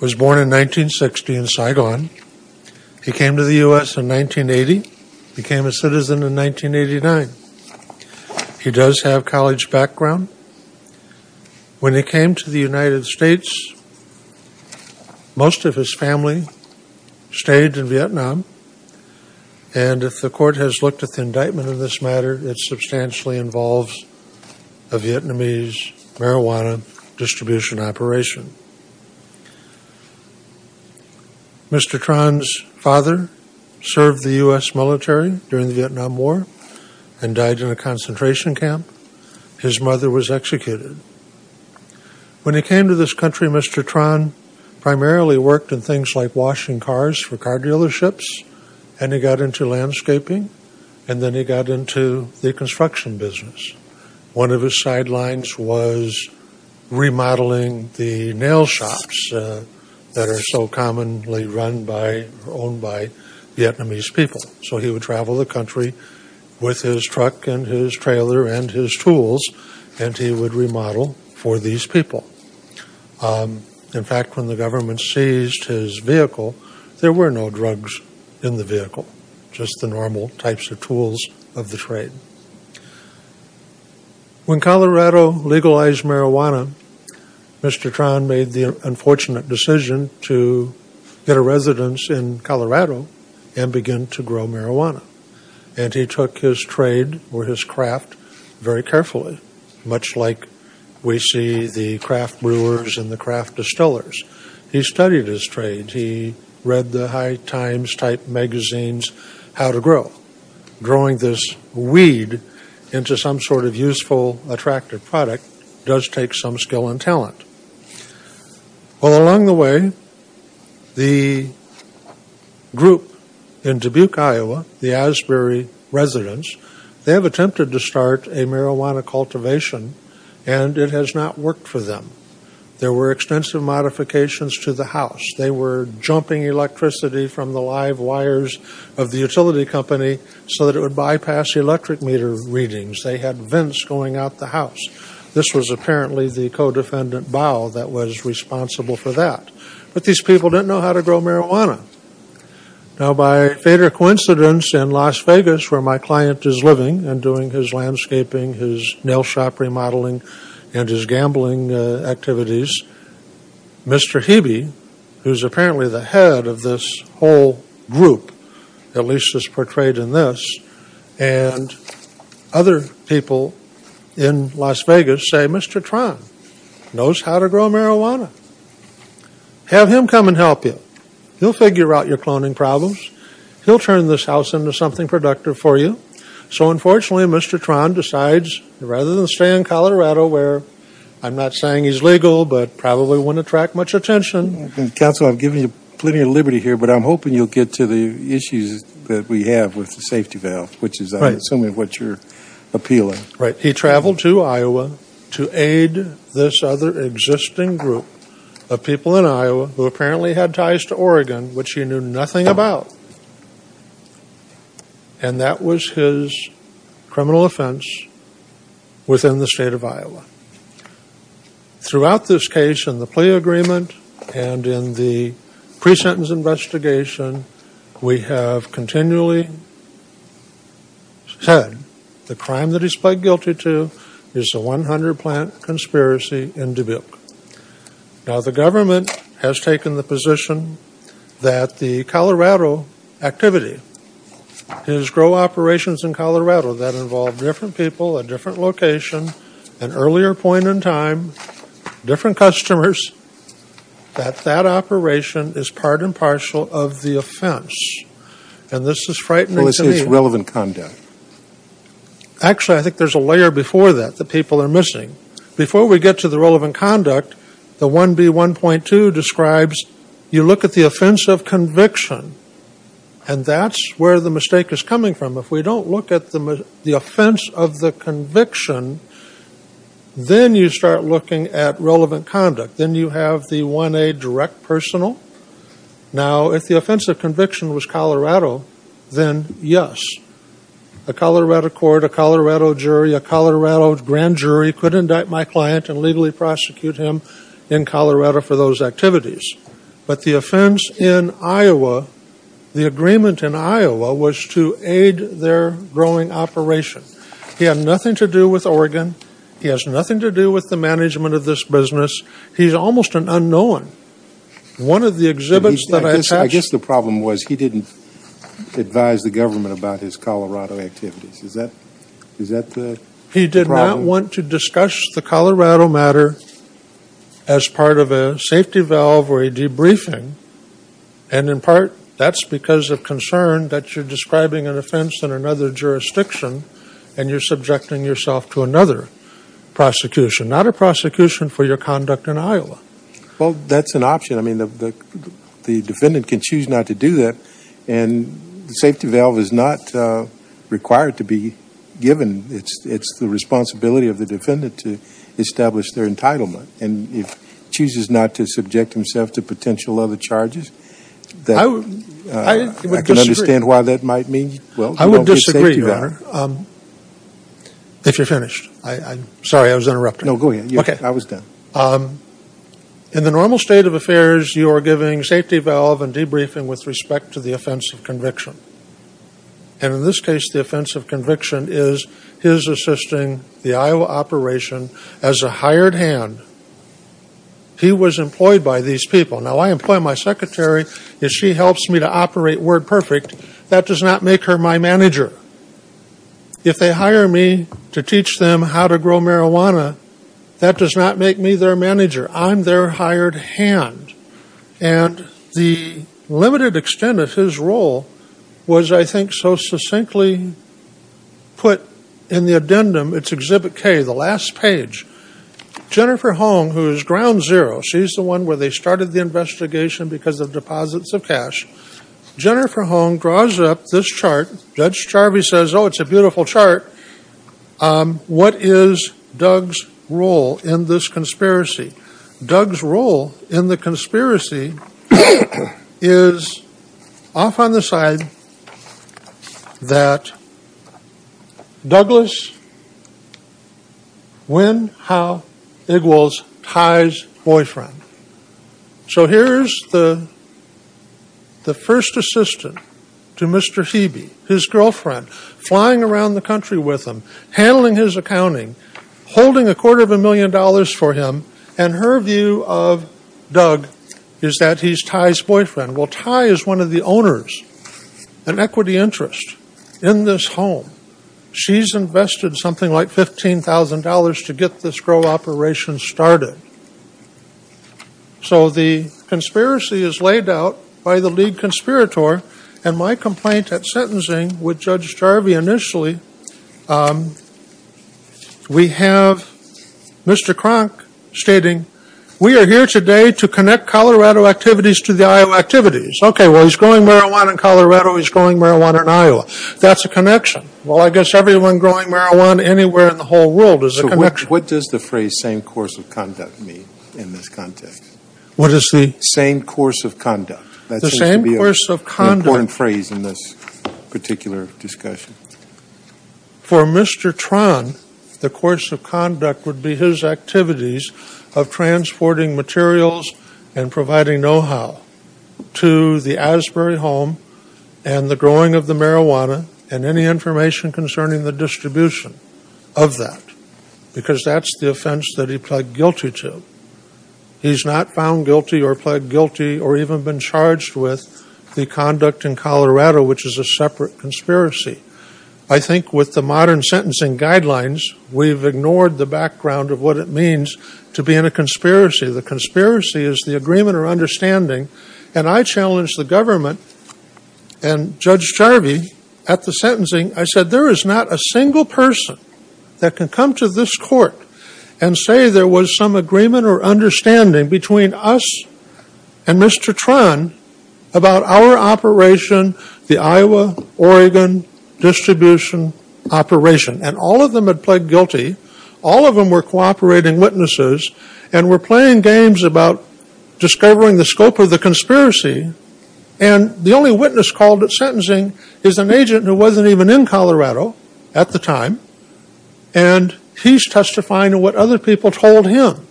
was born in 1960 in Saigon. He came to the U.S. in 1980, became a citizen in 1989. He does have college background. When he came to the United States, most of his family stayed in Vietnam, and if the court has looked at the indictment in this matter, it substantially involves a Vietnamese marijuana distribution operation. Mr. Tran's father served the U.S. military during the Vietnam War and died in a concentration camp. His mother was executed. When he came to this country, Mr. Tran primarily worked in things like washing cars for car business. One of his sidelines was remodeling the nail shops that are so commonly run by or owned by Vietnamese people. So he would travel the country with his truck and his trailer and his tools, and he would remodel for these people. In fact, when the government seized his vehicle, there were no drugs in the vehicle, just the normal types of tools of the trade. When Colorado legalized marijuana, Mr. Tran made the unfortunate decision to get a residence in Colorado and begin to grow marijuana. And he took his trade or his craft very carefully, much like we see the craft brewers and the craft distillers. He studied his trade. He read the High Times type magazines, How to Grow. Growing this weed into some sort of useful attractive product does take some skill and talent. Well, along the way, the group in Dubuque, Iowa, the Asbury residence, they have attempted to start a marijuana cultivation, and it has not worked for them. There were extensive to the house. They were jumping electricity from the live wires of the utility company so that it would bypass the electric meter readings. They had vents going out the house. This was apparently the co-defendant, Bao, that was responsible for that. But these people didn't know how to grow marijuana. Now by fate or coincidence, in Las Vegas, where my client is living and doing his landscaping, his nail shop remodeling, and his gambling activities, Mr. Hebe, who is apparently the head of this whole group, at least as portrayed in this, and other people in Las Vegas say, Mr. Tron knows how to grow marijuana. Have him come and help you. He'll figure out your cloning problems. He'll turn this house into something productive for you. So unfortunately, Mr. Tron decides, rather than stay in Colorado, where I'm not saying he's legal, but probably wouldn't attract much attention. Counsel, I've given you plenty of liberty here, but I'm hoping you'll get to the issues that we have with the safety valve, which is, I assume, what you're appealing. Right. He traveled to Iowa to aid this other existing group of people in Iowa who apparently had ties to Oregon, which he knew nothing about. And that was his criminal offense within the state of Iowa. Throughout this case, in the plea agreement, and in the pre-sentence investigation, we have continually said the crime that he's pled guilty to is the 100 plant conspiracy in Dubuque. Now, the government has taken the position that the Colorado activity, his grow operations in Colorado that involved different people, a different location, an earlier point in time, different customers, that that operation is part and parcel of the offense. And this is frightening to me. Well, it's his relevant conduct. Actually, I think there's a layer before that that people are missing. Before we get to the relevant conduct, the 1B1.2 describes, you look at the offense of conviction. And that's where the mistake is coming from. If we don't look at the offense of the conviction, then you start looking at relevant conduct. Then you have the 1A direct personal. Now if the offense of conviction was Colorado, then yes. A Colorado court, a Colorado jury, a Colorado grand jury could indict my client and legally prosecute him in Colorado for those activities. But the offense in Iowa, the agreement in Iowa, was to aid their growing operation. He had nothing to do with Oregon. He has nothing to do with the management of this business. He's almost an unknown. One of the exhibits that I've had I guess the problem was he didn't advise the government about his Colorado activities. Is that the problem? He did not want to discuss the Colorado matter as part of a safety valve or a debriefing. And in part, that's because of concern that you're describing an offense in another jurisdiction and you're subjecting yourself to another prosecution. Not a prosecution for your conduct in Iowa. Well, that's an option. I mean, the defendant can choose not to do that. And the safety valve is required to be given. It's the responsibility of the defendant to establish their entitlement. And if he chooses not to subject himself to potential other charges, I can understand why that might mean. I would disagree, Your Honor. If you're finished. Sorry, I was interrupting. No, go ahead. I was done. In the normal state of affairs, you are giving safety valve and debriefing with respect to the offense of conviction. And in this case, the offense of conviction is his assisting the Iowa operation as a hired hand. He was employed by these people. Now, I employ my secretary. If she helps me to operate WordPerfect, that does not make her my manager. If they hire me to teach them how to grow marijuana, that does not make me their manager. I'm their hired hand. And the limited extent of his role was, I think, so succinctly put in the addendum. It's Exhibit K, the last page. Jennifer Hong, who is ground zero, she's the one where they started the investigation because of deposits of cash. Jennifer Hong draws up this chart. Judge Charvey says, oh, it's a beautiful chart. What is Doug's role in this conspiracy? Doug's role in the conspiracy is off on the side that Douglas Wenhow Igwals ties boyfriend. So here's the first assistant to Mr. Hebe, his girlfriend, flying around the country with him, handling his accounting, holding a quarter of a million dollars for him. And her view of Doug is that he's Ty's boyfriend. Well, Ty is one of the owners, an equity interest in this home. She's invested something like $15,000 to get this grow operation started. So the conspiracy is laid out by the lead conspirator. And my complaint at sentencing with Judge Charvey initially, we have Mr. Cronk stating, we are here today to connect Colorado activities to the Iowa activities. Okay, well, he's growing marijuana in Colorado, he's growing marijuana in Iowa. That's a connection. Well, I guess everyone growing marijuana anywhere in the whole world is a connection. So what does the phrase same course of conduct mean in this context? What is the? Same course of conduct. The same course of conduct. What's the important phrase in this particular discussion? For Mr. Tron, the course of conduct would be his activities of transporting materials and providing know-how to the Asbury home and the growing of the marijuana and any information concerning the distribution of that. Because that's the offense that he pled guilty to. He's not found guilty or pled guilty or even been charged with the conduct in Colorado, which is a separate conspiracy. I think with the modern sentencing guidelines, we've ignored the background of what it means to be in a conspiracy. The conspiracy is the agreement or understanding. And I challenged the government and Judge Charvey at the sentencing, I said, there is not a single person that can come to this court and say there was some agreement or understanding between us and Mr. Tron about our operation, the Iowa-Oregon distribution operation. And all of them had pled guilty. All of them were cooperating witnesses and were playing games about discovering the scope of the conspiracy. And the only witness called at sentencing is an agent who wasn't even in Colorado at the time. And he's testifying to what other people told him.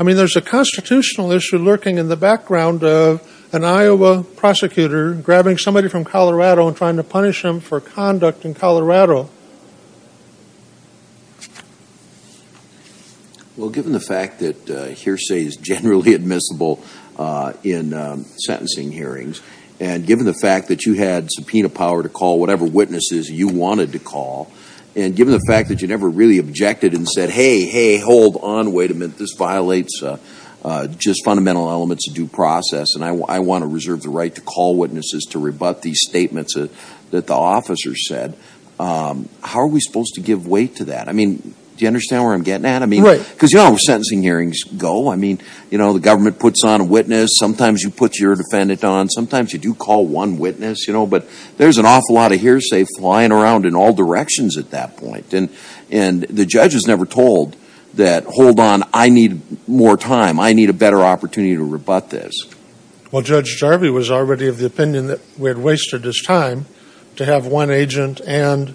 I mean, there's a constitutional issue lurking in the background of an Iowa prosecutor grabbing somebody from Colorado and trying to punish him for conduct in Colorado. Well, given the fact that hearsay is generally admissible in sentencing hearings, and given the fact that you had subpoena power to call whatever witnesses you wanted to call, and given the fact that you never really objected and said, hey, hey, hold on, wait a minute, this violates just fundamental elements of due process, and I want to reserve the right to call witnesses to rebut these statements that the officer said, how are we supposed to give weight to that? I mean, do you understand where I'm getting at? Right. I mean, because you know how sentencing hearings go. I mean, you know, the government puts on a witness, sometimes you put your defendant on, sometimes you do call one witness, you know, but there's an awful lot of hearsay flying around in all directions at that point. And the judge is never told that, hold on, I need more time, I need a better opportunity to rebut this. Well, Judge Jarvie was already of the opinion that we had wasted his time to have one agent and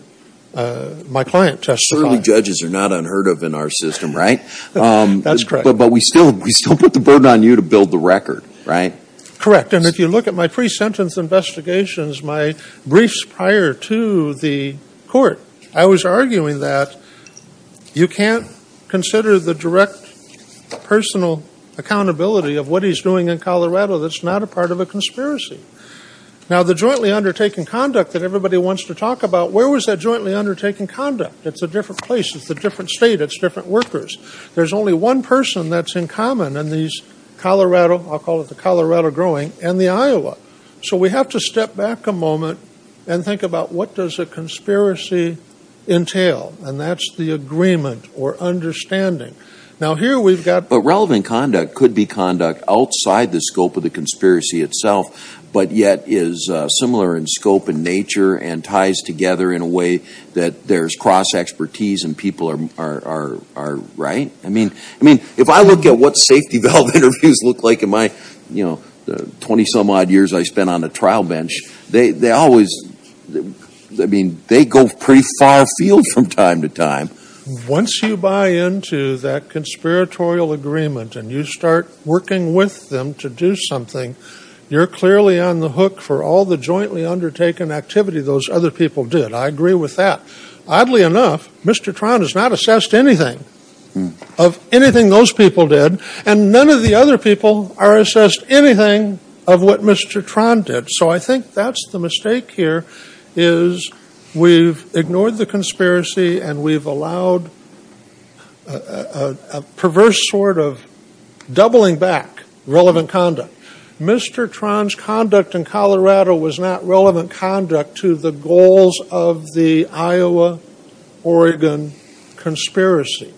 my client testify. Certainly judges are not unheard of in our system, right? That's correct. But we still put the burden on you to build the record, right? Correct. And if you look at my pre-sentence investigations, my briefs prior to the court, I was arguing that you can't consider the direct personal accountability of what he's doing in Colorado that's not a part of a conspiracy. Now the jointly undertaken conduct that everybody wants to talk about, where was that jointly undertaken conduct? It's a different place, it's a different state, it's different workers. There's only one person that's in common in these Colorado, I'll call it the Colorado growing, and the Iowa. So we have to step back a moment and think about what does a conspiracy entail? And that's the agreement or understanding. Now here we've got... But relevant conduct could be conduct outside the scope of the conspiracy itself, but yet is similar in scope and nature and ties together in a way that there's cross expertise and people are right? I mean, if I look at what safety valve interviews look like in my 20 some odd years I spent on a trial bench, they always, I mean, they go pretty far afield from time to time. Once you buy into that conspiratorial agreement and you start working with them to do something, you're clearly on the hook for all the jointly undertaken activity those other people did. I agree with that. Oddly enough, Mr. Tron has not assessed anything of anything those people did and none of the other people are assessed anything of what Mr. Tron did. So I think that's the mistake here is we've ignored the conspiracy and we've allowed a perverse sort of doubling back relevant conduct. Mr. Tron's conduct in Colorado was not relevant conduct to the goals of the Iowa-Oregon conspiracy.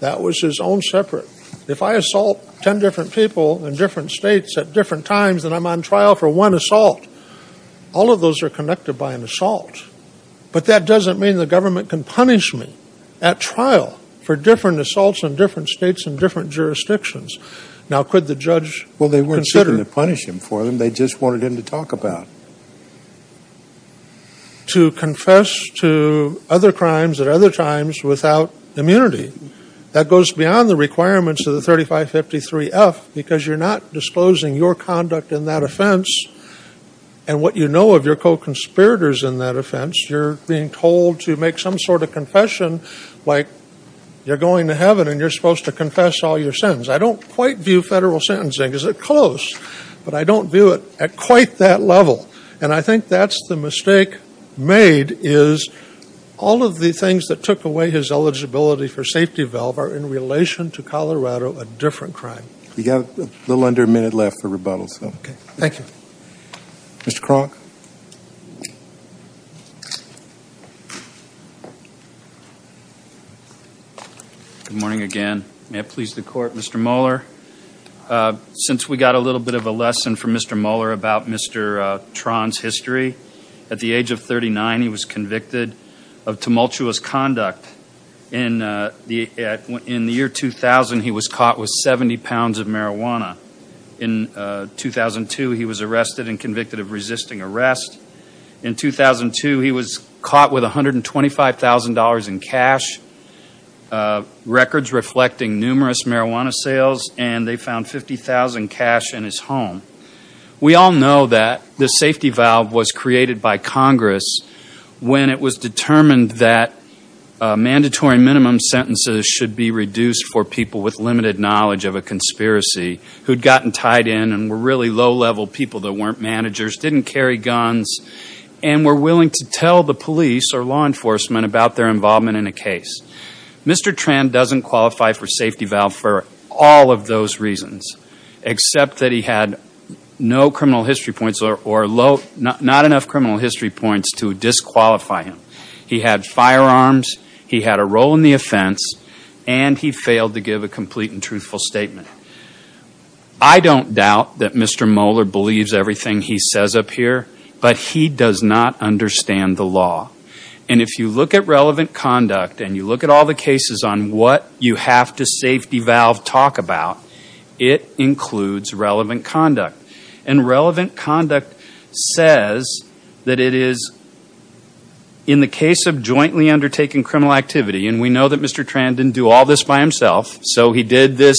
That was his own separate. If I assault 10 different people in different states at different times and I'm on trial for one assault, all of those are connected by an assault. But that doesn't mean the government can punish me at trial for different assaults in different states and different jurisdictions. Now, could the judge consider... Well, they weren't seeking to punish him for them. They just wanted him to talk about. To confess to other crimes at other times without immunity. That goes beyond the requirements of the 3553F because you're not disclosing your conduct in that offense and what you know of your co-conspirators in that offense. You're being told to make some sort of confession like you're going to heaven and you're supposed to confess all your sins. I don't quite view federal sentencing as a close, but I don't view it at quite that level. And I think that's the mistake made is all of the things that took away his eligibility for safety valve are in relation to Colorado a different crime. We got a little under a minute left for rebuttals. Okay. Thank you. Mr. Kronk. Good morning again. May it please the court. Mr. Mohler, since we got a little bit of a lesson from Mr. Mohler about Mr. Tron's history. At the age of 39, he was convicted of tumultuous conduct. In the year 2000, he was caught with 70 pounds of marijuana. In 2002, he was arrested and convicted of resisting arrest. In 2002, he was caught with $125,000 in cash. Records reflecting numerous marijuana sales and they found $50,000 cash in his home. We all know that the safety valve was created by Congress when it was determined that mandatory minimum sentences should be reduced for people with limited knowledge of a conspiracy who'd gotten tied in and were really low-level people that weren't managers, didn't carry guns, and were willing to tell the police or law enforcement about their involvement in a case. Mr. Tron doesn't qualify for safety valve for all of those reasons except that he had no criminal history points or not enough criminal history points to disqualify him. He had firearms, he had a role in the offense, and he failed to give a complete and truthful statement. I don't doubt that Mr. Mohler believes everything he says up here, but he does not understand the law. And if you look at relevant conduct and you look at all the cases on what you have to safety valve talk about, it includes relevant conduct. And relevant conduct says that it is in the case of jointly undertaking criminal activity, and we know that Mr. Tron didn't do all this by himself, so he did this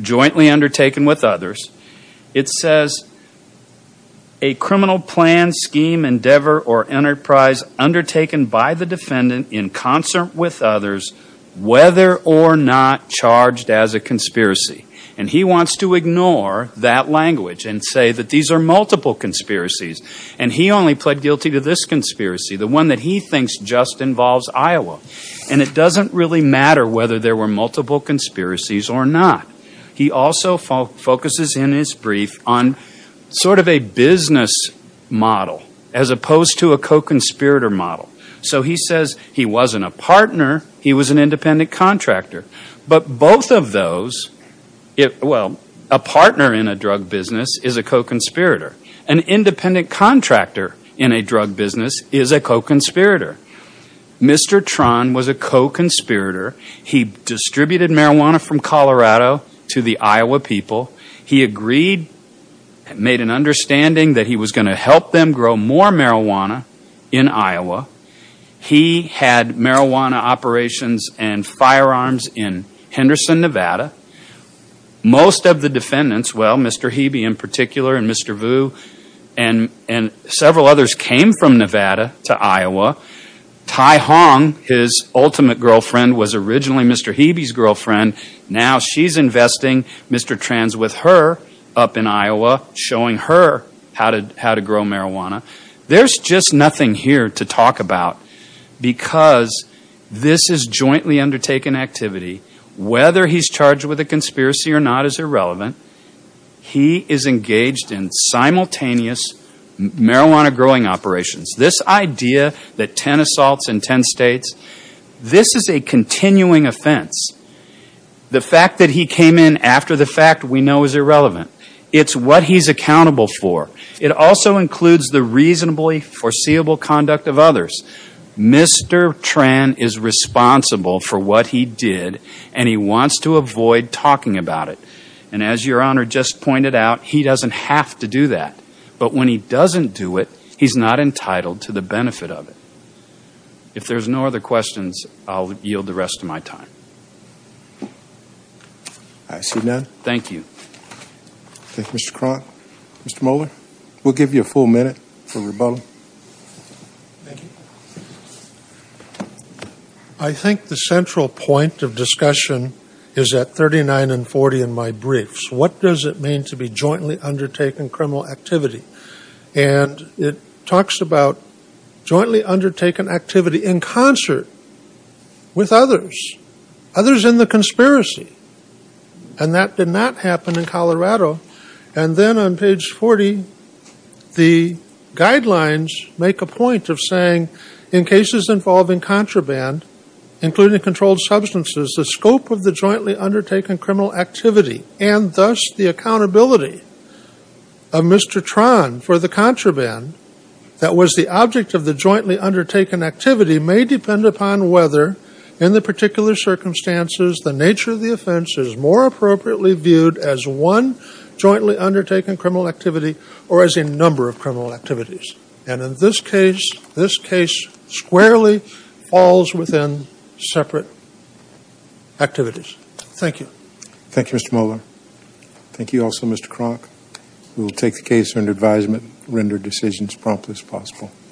jointly undertaken with others. It says, a criminal plan, scheme, endeavor, or enterprise undertaken by the defendant in concert with others whether or not charged as a conspiracy. And he wants to ignore that language and say that these are multiple conspiracies. And he only pled guilty to this conspiracy, the one that he thinks just involves Iowa. And it doesn't really matter whether there were multiple conspiracies or not. He also focuses in his brief on sort of a business model as opposed to a co-conspirator model. So he says he wasn't a partner, he was an independent contractor. But both of those, well, a partner in a drug business is a co-conspirator. An independent contractor in a drug business is a co-conspirator. Mr. Tron was a co-conspirator. He distributed marijuana from Colorado to the Iowa people. He agreed, made an understanding that he was going to help them grow more marijuana in Iowa. He had marijuana operations and firearms in Henderson, Nevada. Most of the defendants, well, Mr. Hebe in particular and Mr. Vu and several others came from Nevada to Iowa. Tai Hong, his ultimate girlfriend, was originally Mr. Hebe's girlfriend. Now she's investing Mr. Tron with her up in Iowa showing her how to grow marijuana. There's just nothing here to talk about because this is jointly undertaken activity. Whether he's charged with a conspiracy or not is irrelevant. He is engaged in simultaneous marijuana growing operations. This idea that 10 assaults in 10 states, this is a continuing offense. The fact that he came in after the fact we know is irrelevant. It's what he's accountable for. It also includes the reasonably foreseeable conduct of others. Mr. Tron is responsible for what he did and he wants to avoid talking about it. And as your honor just pointed out, he doesn't have to do that. But when he doesn't do it, he's not entitled to the benefit of it. If there's no other questions, I'll yield the rest of my time. I see none. Thank you. Thank you, Mr. Cronk. Mr. Moeller, we'll give you a full minute for rebuttal. Thank you. I think the central point of discussion is at 39 and 40 in my briefs. What does it mean to be jointly undertaken criminal activity? And it talks about jointly undertaken activity in concert with others. Others in the conspiracy. And that did not happen in Colorado. And then on page 40, the guidelines make a point of saying in cases involving contraband, including controlled substances, the scope of the jointly undertaken criminal activity and thus the accountability of Mr. Tron for the contraband that was the object of the jointly undertaken activity may depend upon whether in the particular circumstances the nature of the offense is more appropriately viewed as one jointly undertaken criminal activity or as a number of criminal activities. And in this case, this case squarely falls within separate activities. Thank you. Thank you, Mr. Moeller. Thank you also, Mr. Cronk. We will take the case under advisement, render decisions promptly as possible.